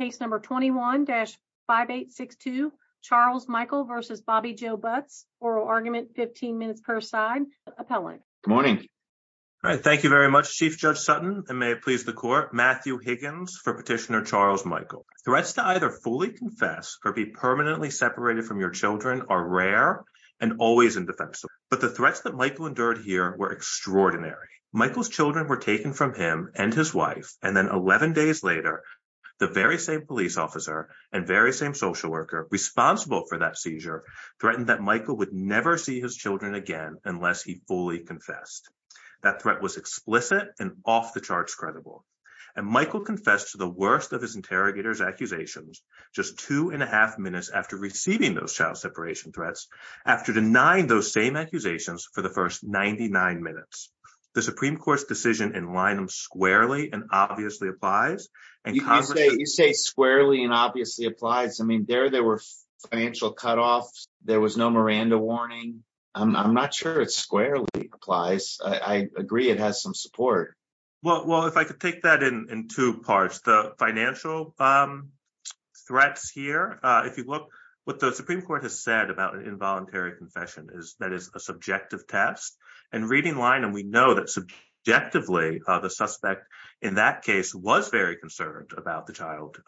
Case number 21-5862, Charles Michael v. Bobbi Jo Butts. Oral argument, 15 minutes per side. Appellant. Good morning. All right, thank you very much, Chief Judge Sutton, and may it please the Court. Matthew Higgins for Petitioner Charles Michael. Threats to either fully confess or be permanently separated from your children are rare and always indefensible, but the threats that Michael endured here were extraordinary. Michael's children were taken from him and his wife, and 11 days later, the very same police officer and very same social worker responsible for that seizure threatened that Michael would never see his children again unless he fully confessed. That threat was explicit and off-the-charts credible, and Michael confessed to the worst of his interrogator's accusations just two and a half minutes after receiving those child separation threats, after denying those same accusations for the first 99 minutes. The Supreme Court's decision in Linum squarely and obviously applies. You say squarely and obviously applies. I mean, there, there were financial cutoffs. There was no Miranda warning. I'm not sure it squarely applies. I agree it has some support. Well, if I could take that in two parts. The financial threats here, if you look, what the Supreme Court has said about an involuntary confession, that is a subjective test, and reading Linum, we know that subjectively the suspect in that case was very concerned about the child.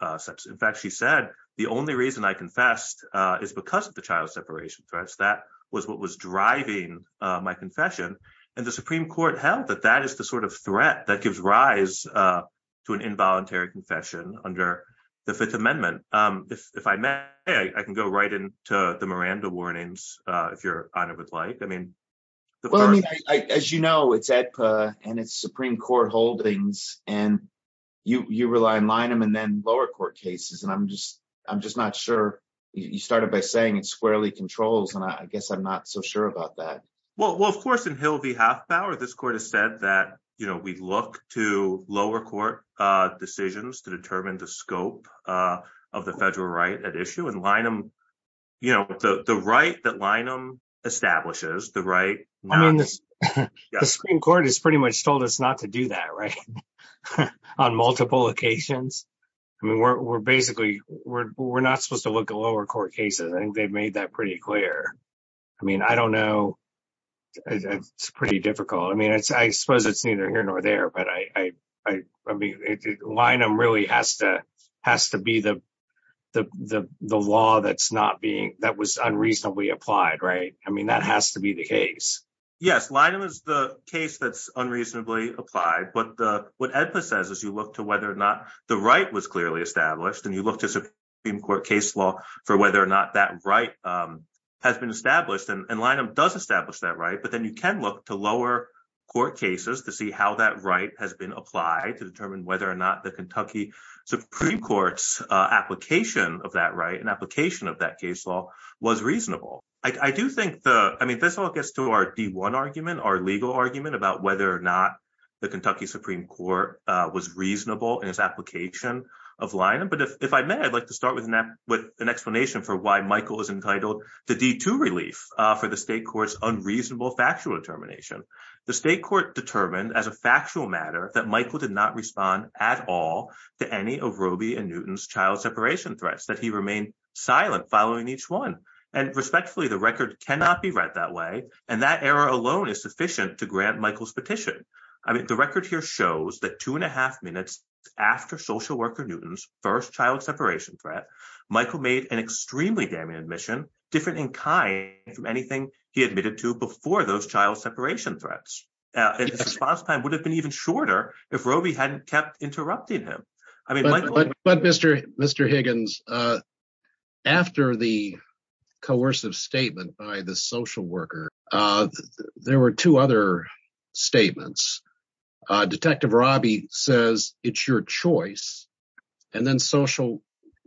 In fact, she said, the only reason I confessed is because of the child separation threats. That was what was driving my confession, and the Supreme Court held that that is the sort of threat that gives rise to an involuntary confession under the Fifth Amendment. If I may, I can go right into the Miranda warnings, if Your Honor would like. I mean, as you know, it's AEDPA and it's Supreme Court holdings, and you rely on Linum and then lower court cases, and I'm just, I'm just not sure. You started by saying it squarely controls, and I guess I'm not so sure about that. Well, of course, in Hill v. Hathpower, this Court has said that, you know, we look to lower court decisions to determine the scope of the federal right at issue, and Linum, you know, the right that Linum establishes, the right. The Supreme Court has pretty much told us not to do that, right, on multiple occasions. I mean, we're basically, we're not supposed to look at lower court cases. I think they've made that pretty clear. I mean, I don't know. It's pretty difficult. I mean, I suppose it's neither here nor there, but I mean, Linum really has to be the law that's not being, that was unreasonably applied, right? I mean, that has to be the case. Yes, Linum is the case that's unreasonably applied, but what AEDPA says is you look to whether or not the right was clearly established, and you look to Supreme Court case law for whether or not that right has been established, and Linum does establish that right, but then you can look to lower court cases to see how that right has been applied to determine whether or not the Kentucky Supreme Court's application of that right and application of that case law was reasonable. I do think the, I mean, this all gets to our D1 argument, our legal argument about whether or not the Kentucky Supreme Court was reasonable in its application of Linum, but if I may, I'd like to start with an explanation for why Michael is entitled to D2 relief for the state court's unreasonable factual determination. The state court determined as a factual matter that Michael did not respond at all to any of Robey and Newton's child separation threats, that he remained silent following each one, and respectfully, the record cannot be read that way, and that error alone is sufficient to grant Michael's petition. I mean, the record here shows that two and a half minutes after Social Worker Newton's first child separation threat, Michael made an extremely damning admission, different in kind from anything he admitted to before those child separation threats. His response time would have been even shorter if Robey hadn't kept interrupting him. But Mr. Higgins, after the coercive statement by the Social Worker, there were two other statements. Detective Robby says, it's your choice, and then Social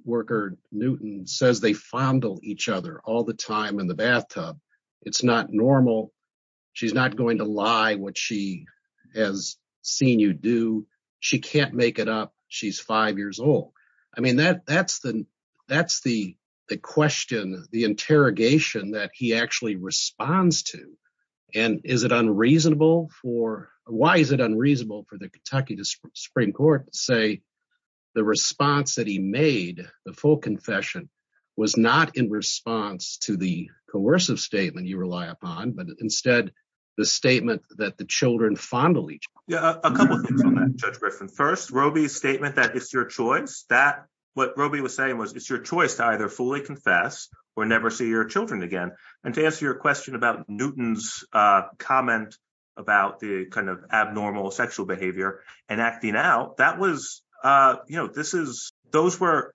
Worker says they fondle each other all the time in the bathtub. It's not normal. She's not going to lie what she has seen you do. She can't make it up. She's five years old. I mean, that's the question, the interrogation that he actually responds to, and is it unreasonable for, why is it unreasonable for the Kentucky Supreme Court to say the response that he made, the full confession, was not in response to the coercive statement you rely upon, but instead the statement that the children fondle each other? Yeah, a couple things on that, Judge Griffin. First, Roby's statement that it's your choice, that what Roby was saying was it's your choice to either fully confess or never see your children again. And to answer your question about Newton's comment about the kind of abnormal sexual behavior and acting out, that was, you know, this is, those were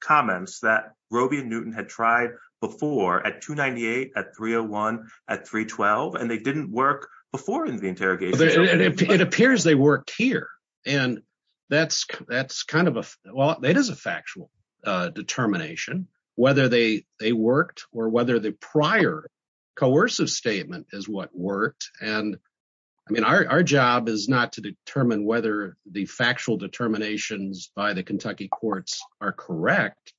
comments that Roby and Newton had tried before at 298, at 301, at 312, and they didn't work before in the interrogation. It appears they worked here, and that's kind of a, well, that is a factual determination, whether they worked or whether the prior coercive statement is what worked. And I mean, our job is not to determine whether the factual determinations by the Kentucky courts are correct,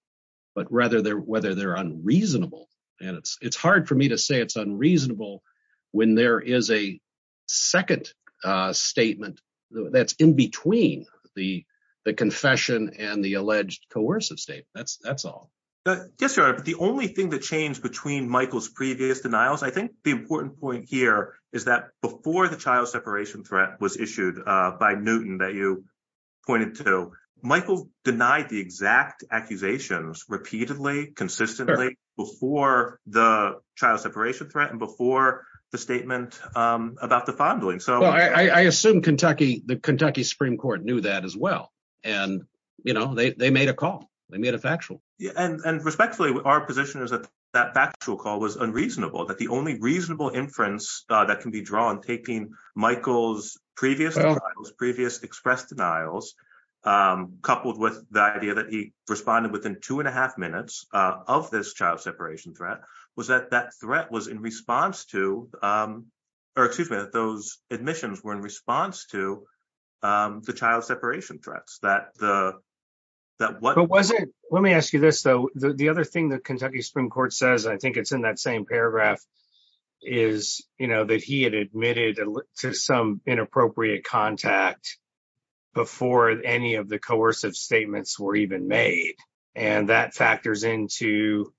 but rather whether they're unreasonable. And it's hard for me to say it's unreasonable when there is a second statement that's in between the confession and the alleged coercive statement. That's all. Yes, Your Honor, but the only thing that changed between Michael's previous denials, I think the important point here is that before the child separation threat was issued by Newton that you pointed to, Michael denied the exact accusations repeatedly, consistently, before the child separation threat and before the statement about the fondling. So I assume Kentucky, the Kentucky Supreme Court knew that as well. And, you know, they made a call. They made a factual. And respectfully, our position is that that factual call was unreasonable, that the only reasonable inference that can be drawn, taking Michael's previous denials, previous expressed denials, coupled with the idea that he responded within two and a half minutes of this child separation threat, was that that threat was in response to, or excuse me, that those admissions were in response to the child separation threats that the, that wasn't. Let me ask you this, though. The other thing that Kentucky Supreme Court says, I think it's in that same paragraph, is, you know, that he had admitted to some inappropriate contact before any of the coercive statements were even made. And that factors into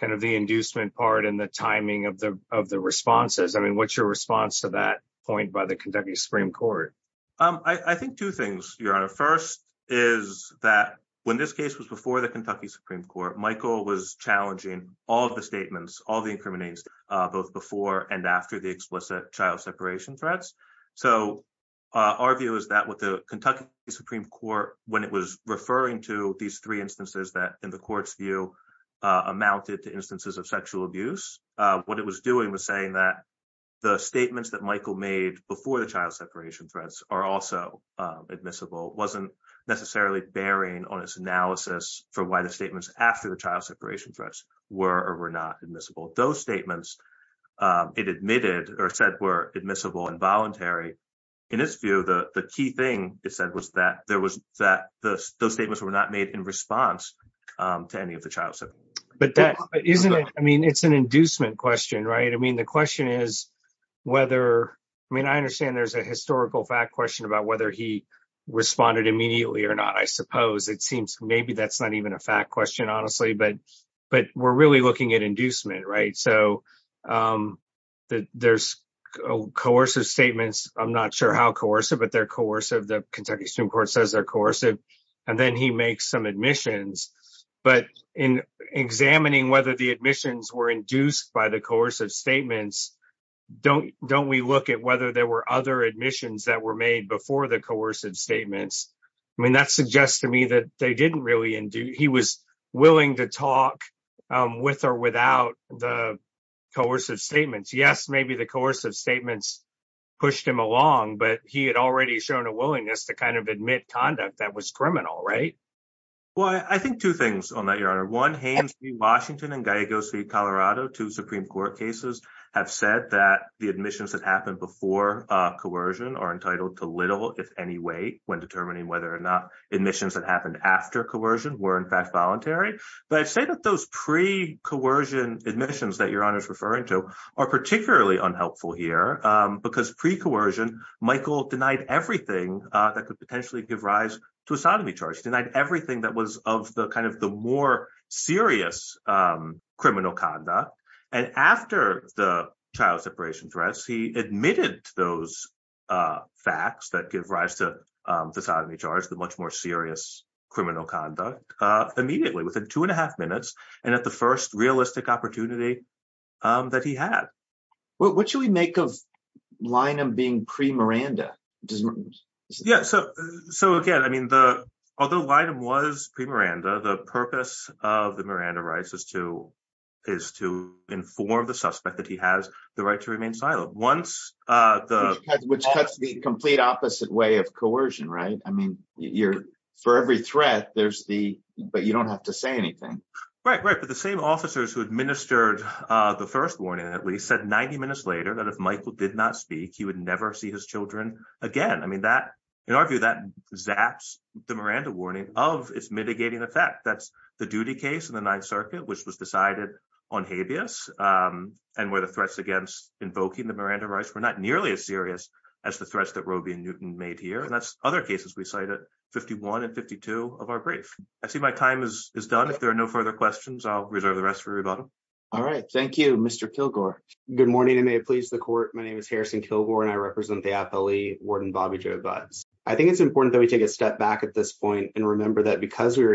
kind of the inducement part and the timing of the of the responses. I mean, what's your response to that point by the Kentucky Supreme Court? I think two things, Your Honor. First is that when this case was before the Kentucky Supreme Court, Michael was challenging all of the statements, all the incriminations, both before and after the explicit child separation threats. So our view is that with the Kentucky Supreme Court, when it was referring to these three instances that, in the court's view, amounted to instances of sexual abuse, what it was doing was saying that the statements that Michael made before the child separation threats are also admissible, wasn't necessarily bearing on its analysis for why the child separation threats were or were not admissible. Those statements it admitted or said were admissible and voluntary. In its view, the key thing it said was that there was that those statements were not made in response to any of the child separation threats. But that isn't it. I mean, it's an inducement question, right? I mean, the question is whether, I mean, I understand there's a historical fact question about whether he responded immediately or not, I suppose. It seems maybe that's not even a fact question, honestly. But we're really looking at inducement, right? So there's coercive statements. I'm not sure how coercive, but they're coercive. The Kentucky Supreme Court says they're coercive. And then he makes some admissions. But in examining whether the admissions were induced by the coercive statements, don't we look at whether there were other admissions that were made before the coercive statements? I mean, that suggests to me that they didn't really induce. He was willing to talk with or without the coercive statements. Yes, maybe the coercive statements pushed him along, but he had already shown a willingness to kind of admit conduct that was criminal, right? Well, I think two things on that, Your Honor. One, Haines v. Washington and Gallegos v. Colorado, two Supreme Court cases, have said that the admissions that happened before coercion are entitled to little, if any weight, when determining whether or not admissions that happened after coercion were in fact voluntary. But I'd say that those pre-coercion admissions that Your Honor's referring to are particularly unhelpful here, because pre-coercion, Michael denied everything that could potentially give rise to a sodomy charge. He denied everything that was of the kind of the more serious criminal conduct. And after the child separation threats, he admitted to those facts that give rise to the sodomy charge, the much more serious criminal conduct, immediately, within two and a half minutes, and at the first realistic opportunity that he had. What should we make of Linum being pre-Miranda? Yeah, so again, I mean, although Linum was pre-Miranda, the purpose of the Miranda rights is to inform the suspect that he has the right to remain silent. Which cuts the complete opposite way of coercion, right? I mean, for every threat, but you don't have to say anything. Right, right. But the same officers who administered the first warning, at least, said 90 minutes later that if Michael did not speak, he would never see his children again. I mean, in our view, that zaps the Miranda warning of its mitigating effect. That's the duty case in the Ninth Circuit, which was decided on habeas, and where the threats against invoking the Miranda rights were not nearly as serious as the threats that Roe v. Newton made here. And that's other cases we cite at 51 and 52 of our brief. I see my time is done. If there are no further questions, I'll reserve the rest for rebuttal. All right. Thank you, Mr. Kilgore. Good morning, and may it please the court. My name is Harrison Kilgore, and I represent the appellee, Warden Bobby Joe Budds. I think it's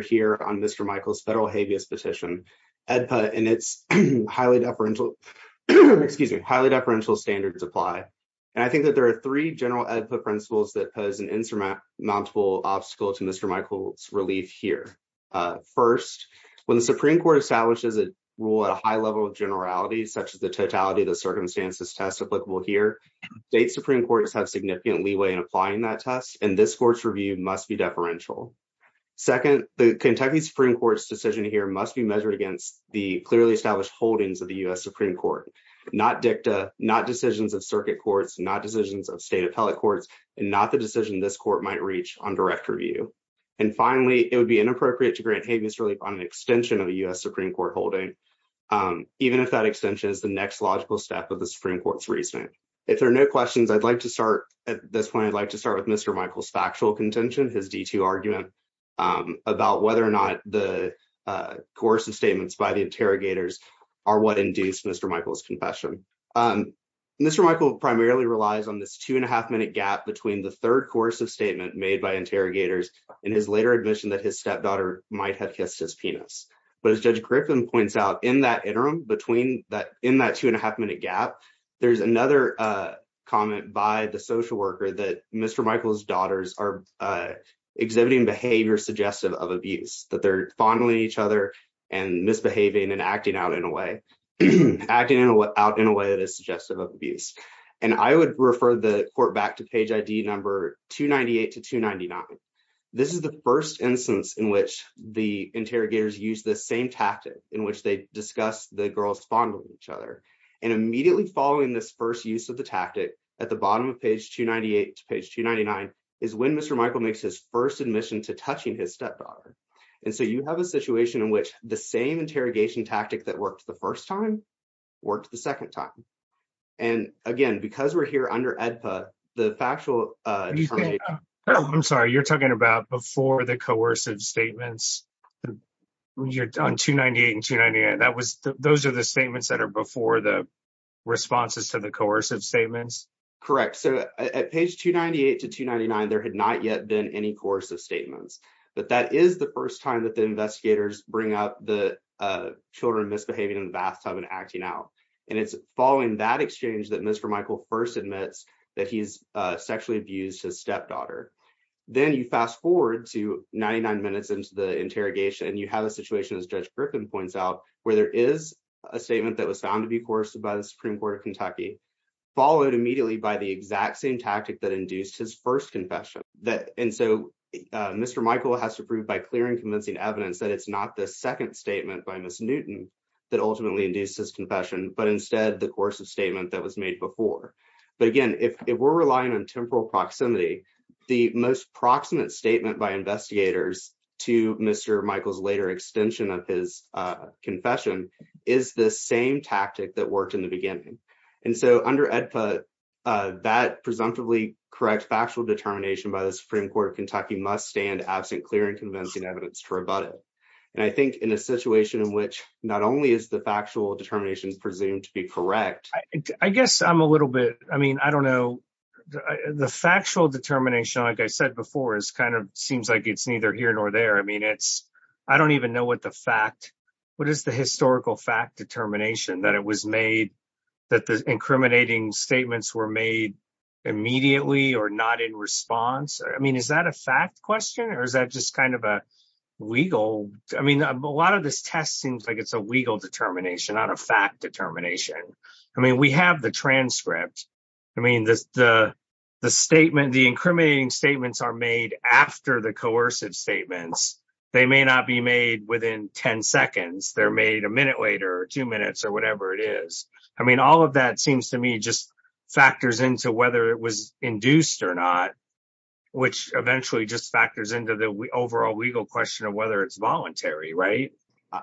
here on Mr. Michael's federal habeas petition, and it's highly deferential, excuse me, highly deferential standards apply. And I think that there are three general principles that pose an insurmountable obstacle to Mr. Michael's relief here. First, when the Supreme Court establishes a rule at a high level of generality, such as the totality of the circumstances test applicable here, state Supreme Courts have significant leeway in applying that test, and this court's review must be deferential. Second, the Kentucky Supreme Court's decision here must be measured against the clearly established holdings of the U.S. Supreme Court, not dicta, not decisions of circuit courts, not decisions of state appellate courts, and not the decision this court might reach on direct review. And finally, it would be inappropriate to grant habeas relief on an extension of the U.S. Supreme Court holding, even if that extension is the next logical step of the Supreme Court's reasoning. If there are no questions, I'd like to start at this point, I'd like to start with Mr. Michael's factual contention, his D2 argument about whether or not the coercive statements by the interrogators are what induced Mr. Michael's confession. Mr. Michael primarily relies on this two and a half minute gap between the third coercive statement made by interrogators and his later admission that his stepdaughter might have kissed his penis. But as Judge Griffin points out, in that interim, in that two and a half minute gap, there's another comment by the social worker that Mr. Michael's daughters are exhibiting behavior suggestive of abuse, that they're fondling each other and misbehaving and acting out in a way that is suggestive of abuse. And I would refer the court back to page ID number 298 to 299. This is the first instance in the interrogators use the same tactic in which they discuss the girls fondling each other. And immediately following this first use of the tactic at the bottom of page 298 to page 299 is when Mr. Michael makes his first admission to touching his stepfather. And so you have a situation in which the same interrogation tactic that worked the first time worked the second time. And again, because we're here under AEDPA, the factual- I'm sorry, you're talking about before the coercive statements on 298 and 298. Those are the statements that are before the responses to the coercive statements? Correct. So at page 298 to 299, there had not yet been any coercive statements. But that is the first time that the investigators bring up the children misbehaving in the bathtub and acting out. And it's following that exchange that Mr. Michael first admits that he's sexually abused his stepdaughter. Then you fast forward to 99 minutes into the interrogation and you have a situation, as Judge Griffin points out, where there is a statement that was found to be coerced by the Supreme Court of Kentucky, followed immediately by the exact same tactic that induced his first confession. And so Mr. Michael has to prove by clear and convincing evidence that it's not the second statement by Ms. Newton that ultimately induced his confession, but instead the coercive statement that was made before. But again, if we're relying on temporal proximity, the most proximate statement by investigators to Mr. Michael's later extension of his confession is the same tactic that worked in the beginning. And so under AEDPA, that presumptively correct factual determination by the Supreme Court of Kentucky must stand absent clear and convincing evidence to rebut it. And I think in a situation in which not only is the factual determination presumed to be correct, I guess I'm a little bit, I mean, I don't know. The factual determination, like I said before, is kind of seems like it's neither here nor there. I mean, it's, I don't even know what the fact, what is the historical fact determination that it was made, that the incriminating statements were made immediately or not in response. I mean, is that a fact question or is that just kind of a legal, I mean, a lot of this test seems like it's a legal determination, not a fact determination. I mean, we have the transcript. I mean, the incriminating statements are made after the coercive statements. They may not be made within 10 seconds. They're made a minute later or two minutes or whatever it is. I mean, all of that seems to me just factors into whether it was right.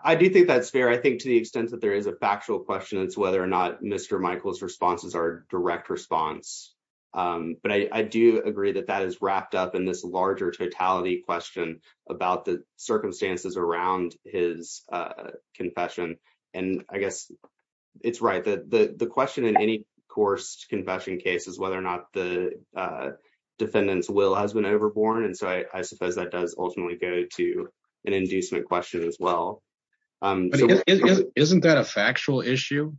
I do think that's fair. I think to the extent that there is a factual question, it's whether or not Mr. Michael's responses are direct response. But I do agree that that is wrapped up in this larger totality question about the circumstances around his confession. And I guess it's right that the question in any coerced confession case is whether or not the defendant's will has been overborne. And so I suppose that does ultimately go to an inducement question as well. Isn't that a factual issue,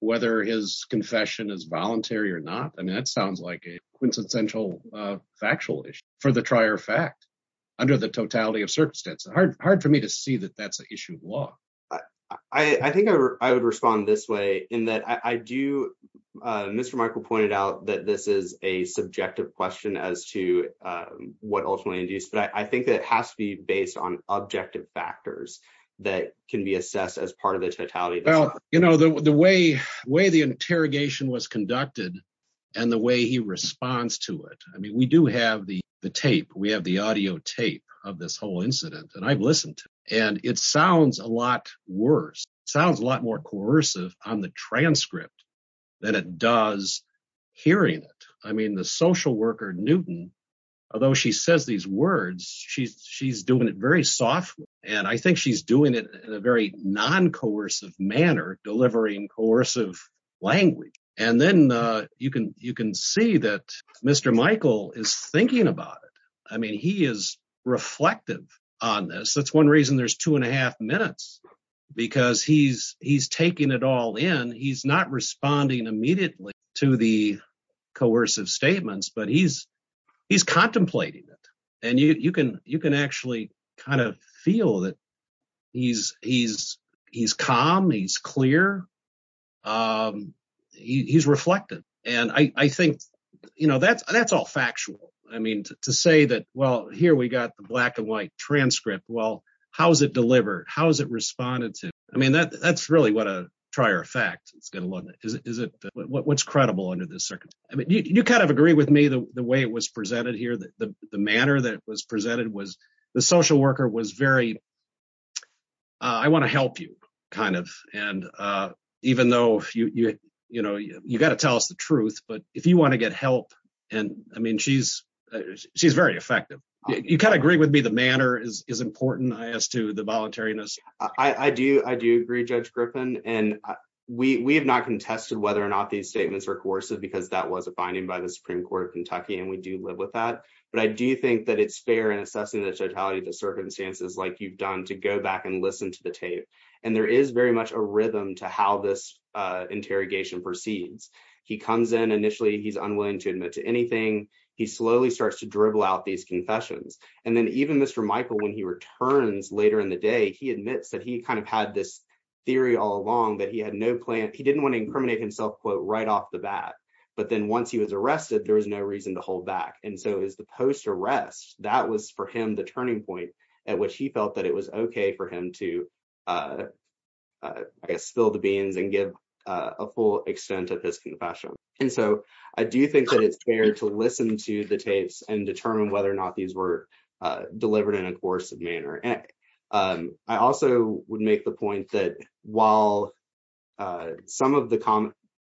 whether his confession is voluntary or not? I mean, that sounds like a quintessential factual issue for the trier fact under the totality of circumstance. Hard for me to see that that's an issue of law. I think I would respond this way in that I do. Mr. Michael pointed out that this is a subjective question as to what ultimately induced. But I think that it has to be based on objective factors that can be assessed as part of the totality. Well, you know, the way the interrogation was conducted and the way he responds to it. I mean, we do have the tape. We have the audio tape of this whole incident that I've listened to. And it sounds a lot worse, sounds a lot more coercive on the transcript than it does hearing it. I mean, the social worker, Newton, although she says these words, she's she's doing it very softly. And I think she's doing it in a very non-coercive manner, delivering coercive language. And then you can you can see that Mr. Michael is thinking about it. I mean, he is reflective on this. That's one reason there's two and a half minutes because he's he's taking it all in. He's not responding immediately to the coercive statements, but he's he's contemplating it. And you can you can actually kind of feel that he's he's he's calm. He's clear. He's reflective. And I think, you know, that's that's all factual. I mean, to say that, well, here we got the black and white transcript. Well, how is it delivered? How is it responded to? I mean, that that's really what a trier effect it's going to look like. Is it what's credible under this circumstance? I mean, you kind of agree with me the way it was presented here, that the manner that was presented was the social worker was very. I want to help you kind of. And even though, you know, you've got to tell us the truth, but if you want to get help and I mean, she's she's very effective. You can't agree with me. Is important as to the voluntariness. I do. I do agree, Judge Griffin. And we have not contested whether or not these statements are coercive, because that was a finding by the Supreme Court of Kentucky. And we do live with that. But I do think that it's fair in assessing the totality of the circumstances like you've done to go back and listen to the tape. And there is very much a rhythm to how this interrogation proceeds. He comes in initially. He's unwilling to admit to Michael when he returns later in the day. He admits that he kind of had this theory all along that he had no plan. He didn't want to incriminate himself, quote, right off the bat. But then once he was arrested, there was no reason to hold back. And so is the post arrest. That was for him the turning point at which he felt that it was OK for him to spill the beans and give a full extent of his confession. And so I do think that it's fair to listen to the tapes and determine whether or delivered in a coercive manner. And I also would make the point that while some of the comments,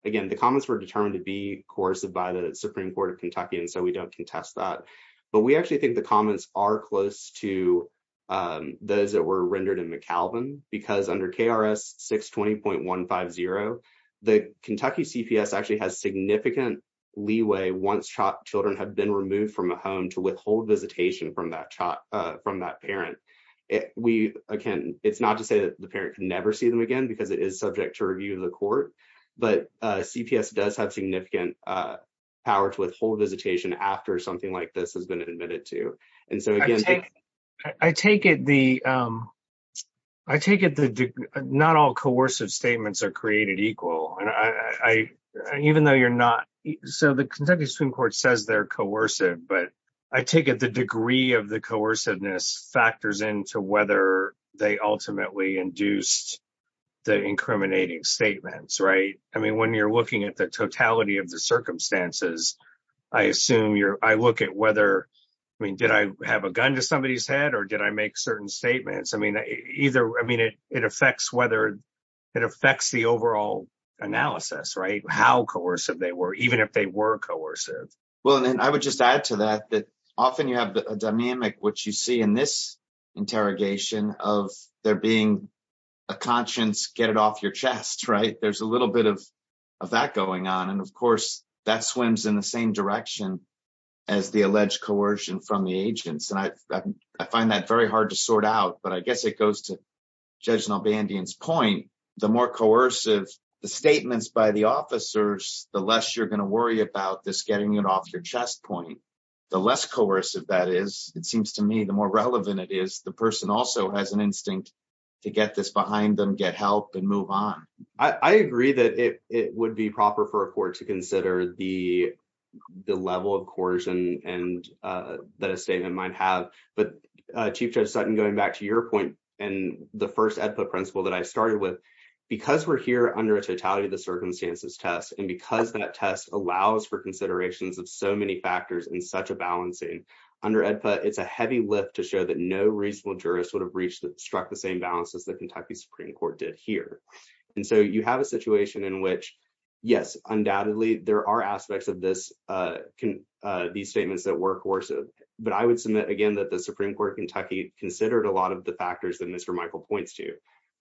again, the comments were determined to be coercive by the Supreme Court of Kentucky, and so we don't contest that. But we actually think the comments are close to those that were rendered in McAlvin, because under KRS 620.150, the Kentucky CPS actually has significant leeway once children have been removed from a home to withhold visitation from that from that parent. We again, it's not to say that the parent can never see them again because it is subject to review of the court. But CPS does have significant power to withhold visitation after something like this has been admitted to. And so I take it the I take it that not all coercive statements are Supreme Court says they're coercive, but I take it the degree of the coerciveness factors into whether they ultimately induced the incriminating statements. Right. I mean, when you're looking at the totality of the circumstances, I assume you're I look at whether I mean, did I have a gun to somebody's head or did I make certain statements? I mean, either. I mean, it it affects whether it affects the overall analysis, right? How coercive they were, even if they were coercive. Well, and I would just add to that that often you have a dynamic, which you see in this interrogation of there being a conscience. Get it off your chest. Right. There's a little bit of that going on. And of course, that swims in the same direction as the alleged coercion from the agents. And I find that very hard to sort out. But I guess it goes to point the more coercive the statements by the officers, the less you're going to worry about this, getting it off your chest point, the less coercive that is, it seems to me, the more relevant it is. The person also has an instinct to get this behind them, get help and move on. I agree that it would be proper for a court to consider the the level of coercion and that a statement might have. But Chief Judge Sutton, going back to your point and the first principle that I started with, because we're here under a totality of the circumstances test and because that test allows for considerations of so many factors in such a balancing under it, it's a heavy lift to show that no reasonable jurist would have reached struck the same balance as the Kentucky Supreme Court did here. And so you have a situation in which, yes, undoubtedly there are aspects of this these statements that were coercive. But I would submit, again, that the Supreme Court of Kentucky considered a lot of the factors that Mr. Michael points to.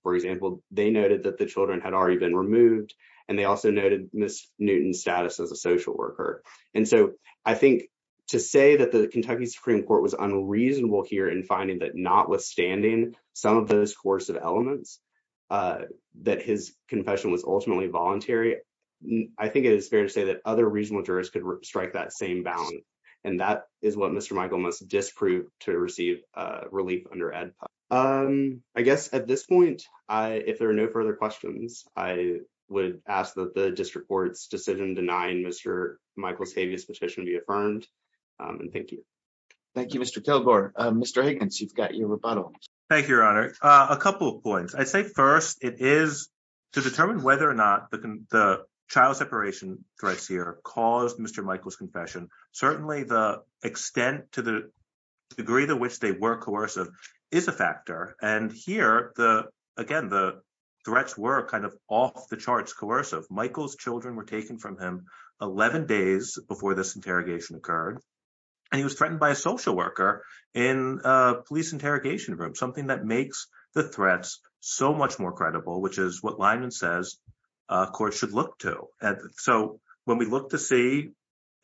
For example, they noted that the children had already been removed and they also noted Miss Newton's status as a social worker. And so I think to say that the Kentucky Supreme Court was unreasonable here in finding that, notwithstanding some of those coercive elements, that his confession was ultimately voluntary, I think it is fair to say that other reasonable jurors could strike that same balance. And that is what Mr. Michael must disprove to receive relief under ADPA. I guess at this point, if there are no further questions, I would ask that the district court's decision denying Mr. Michael's heaviest petition be affirmed. And thank you. Thank you, Mr. Kilgore. Mr. Higgins, you've got your rebuttal. Thank you, Your Honor. A couple of points. I'd say first it is to determine whether or not the child separation threats here caused Mr. Michael's confession. Certainly, the extent to the degree to which they were coercive is a factor. And here, again, the threats were kind of off the charts coercive. Michael's children were taken from him 11 days before this interrogation occurred. And he was threatened by a social worker in a police line. And says, of course, should look to. So when we look to see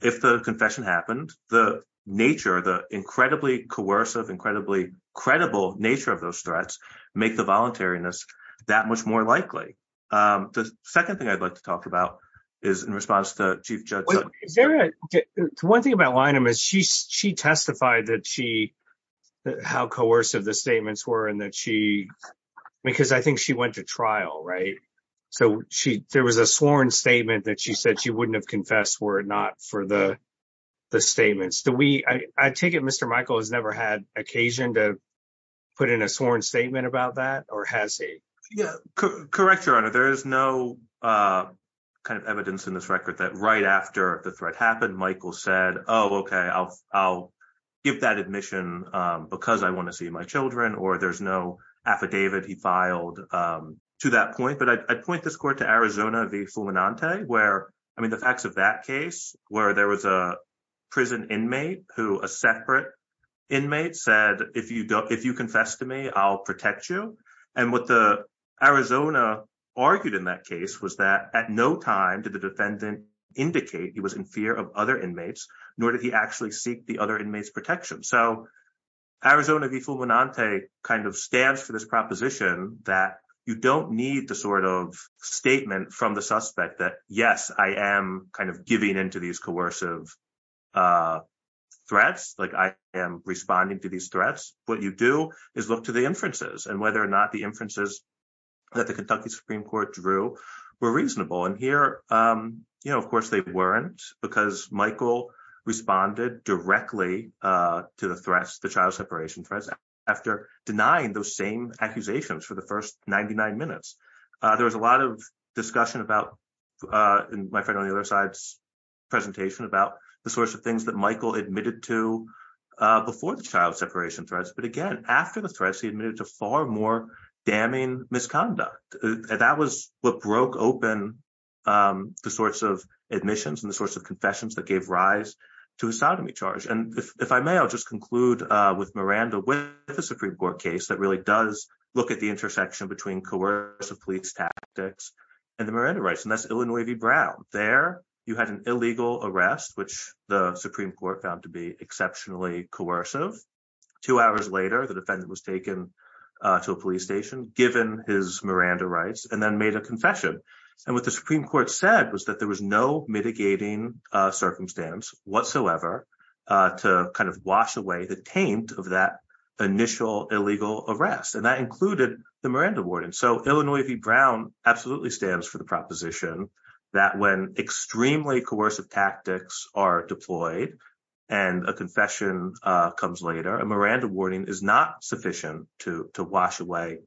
if the confession happened, the nature, the incredibly coercive, incredibly credible nature of those threats make the voluntariness that much more likely. The second thing I'd like to talk about is in response to Chief Judge. One thing about Lynam is she she testified that she how coercive the statements were and that she because I think she went to trial, right? So she there was a sworn statement that she said she wouldn't have confessed were it not for the the statements that we I take it. Mr. Michael has never had occasion to put in a sworn statement about that or has he? Yeah, correct, Your Honor. There is no kind of evidence in this record that right after the threat happened, Michael said, oh, OK, I'll I'll give that admission because I want to see my children or there's no affidavit he filed to that point. But I'd point this court to Arizona v. Fulminante where I mean, the facts of that case where there was a prison inmate who a separate inmate said, if you don't, if you confess to me, I'll protect you. And what the Arizona argued in that case was that at no time did the defendant indicate he was in fear of other inmates, nor did he actually seek the other inmates protection. So Arizona v. Fulminante kind of stands for this proposition that you don't need the sort of statement from the suspect that, yes, I am kind of giving into these coercive threats like I am responding to these threats. What you do is look to the inferences and whether or not the inferences that the Kentucky Supreme Court drew were reasonable. And here, of course, they weren't because Michael responded directly to the threats, the child separation threats, after denying those same accusations for the first ninety nine minutes. There was a lot of discussion about my friend on the other side's presentation about the sorts of things that Michael admitted to before the child separation threats. But again, after the threats, he admitted to far more damning misconduct. That was what broke open the sorts of admissions and the sorts of confessions that gave rise to a sodomy charge. And if I may, I'll just conclude with Miranda with the Supreme Court case that really does look at the intersection between coercive police tactics and the Miranda rights. And that's Illinois v. Brown. There, you had an illegal arrest, which the Supreme Court found to be exceptionally coercive. Two hours later, the defendant was taken to a police station given his Miranda rights and then made a confession. And what the Supreme Court said was that there was no mitigating circumstance whatsoever to kind of wash away the taint of that initial illegal arrest. And that included the Miranda warning. So Illinois v. Brown absolutely stands for the proposition that when extremely coercive tactics are deployed and a confession comes later, a Miranda warning is not sufficient to wash away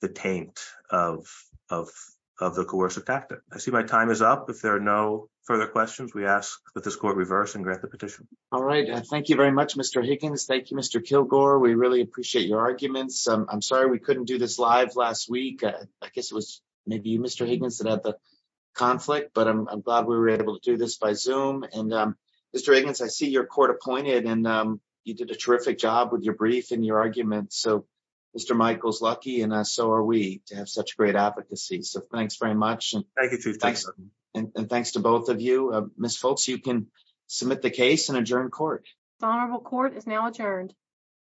the taint of the coercive tactic. I see my time is up. If there are no further questions, we ask that this court reverse and grant the petition. All right. Thank you very much, Mr. Higgins. Thank you, Mr. Kilgore. We really appreciate your arguments. I'm sorry we couldn't do this live last week. I guess it was maybe you, Mr. Higgins, that had the conflict, but I'm glad we were able to do this by Zoom. Mr. Higgins, I see you're court appointed and you did a terrific job with your brief and your argument. So Mr. Michael's lucky and so are we to have such great advocacy. So thanks very much. And thanks to both of you. Ms. Foltz, you can submit the case and adjourn court. The honorable court is now adjourned.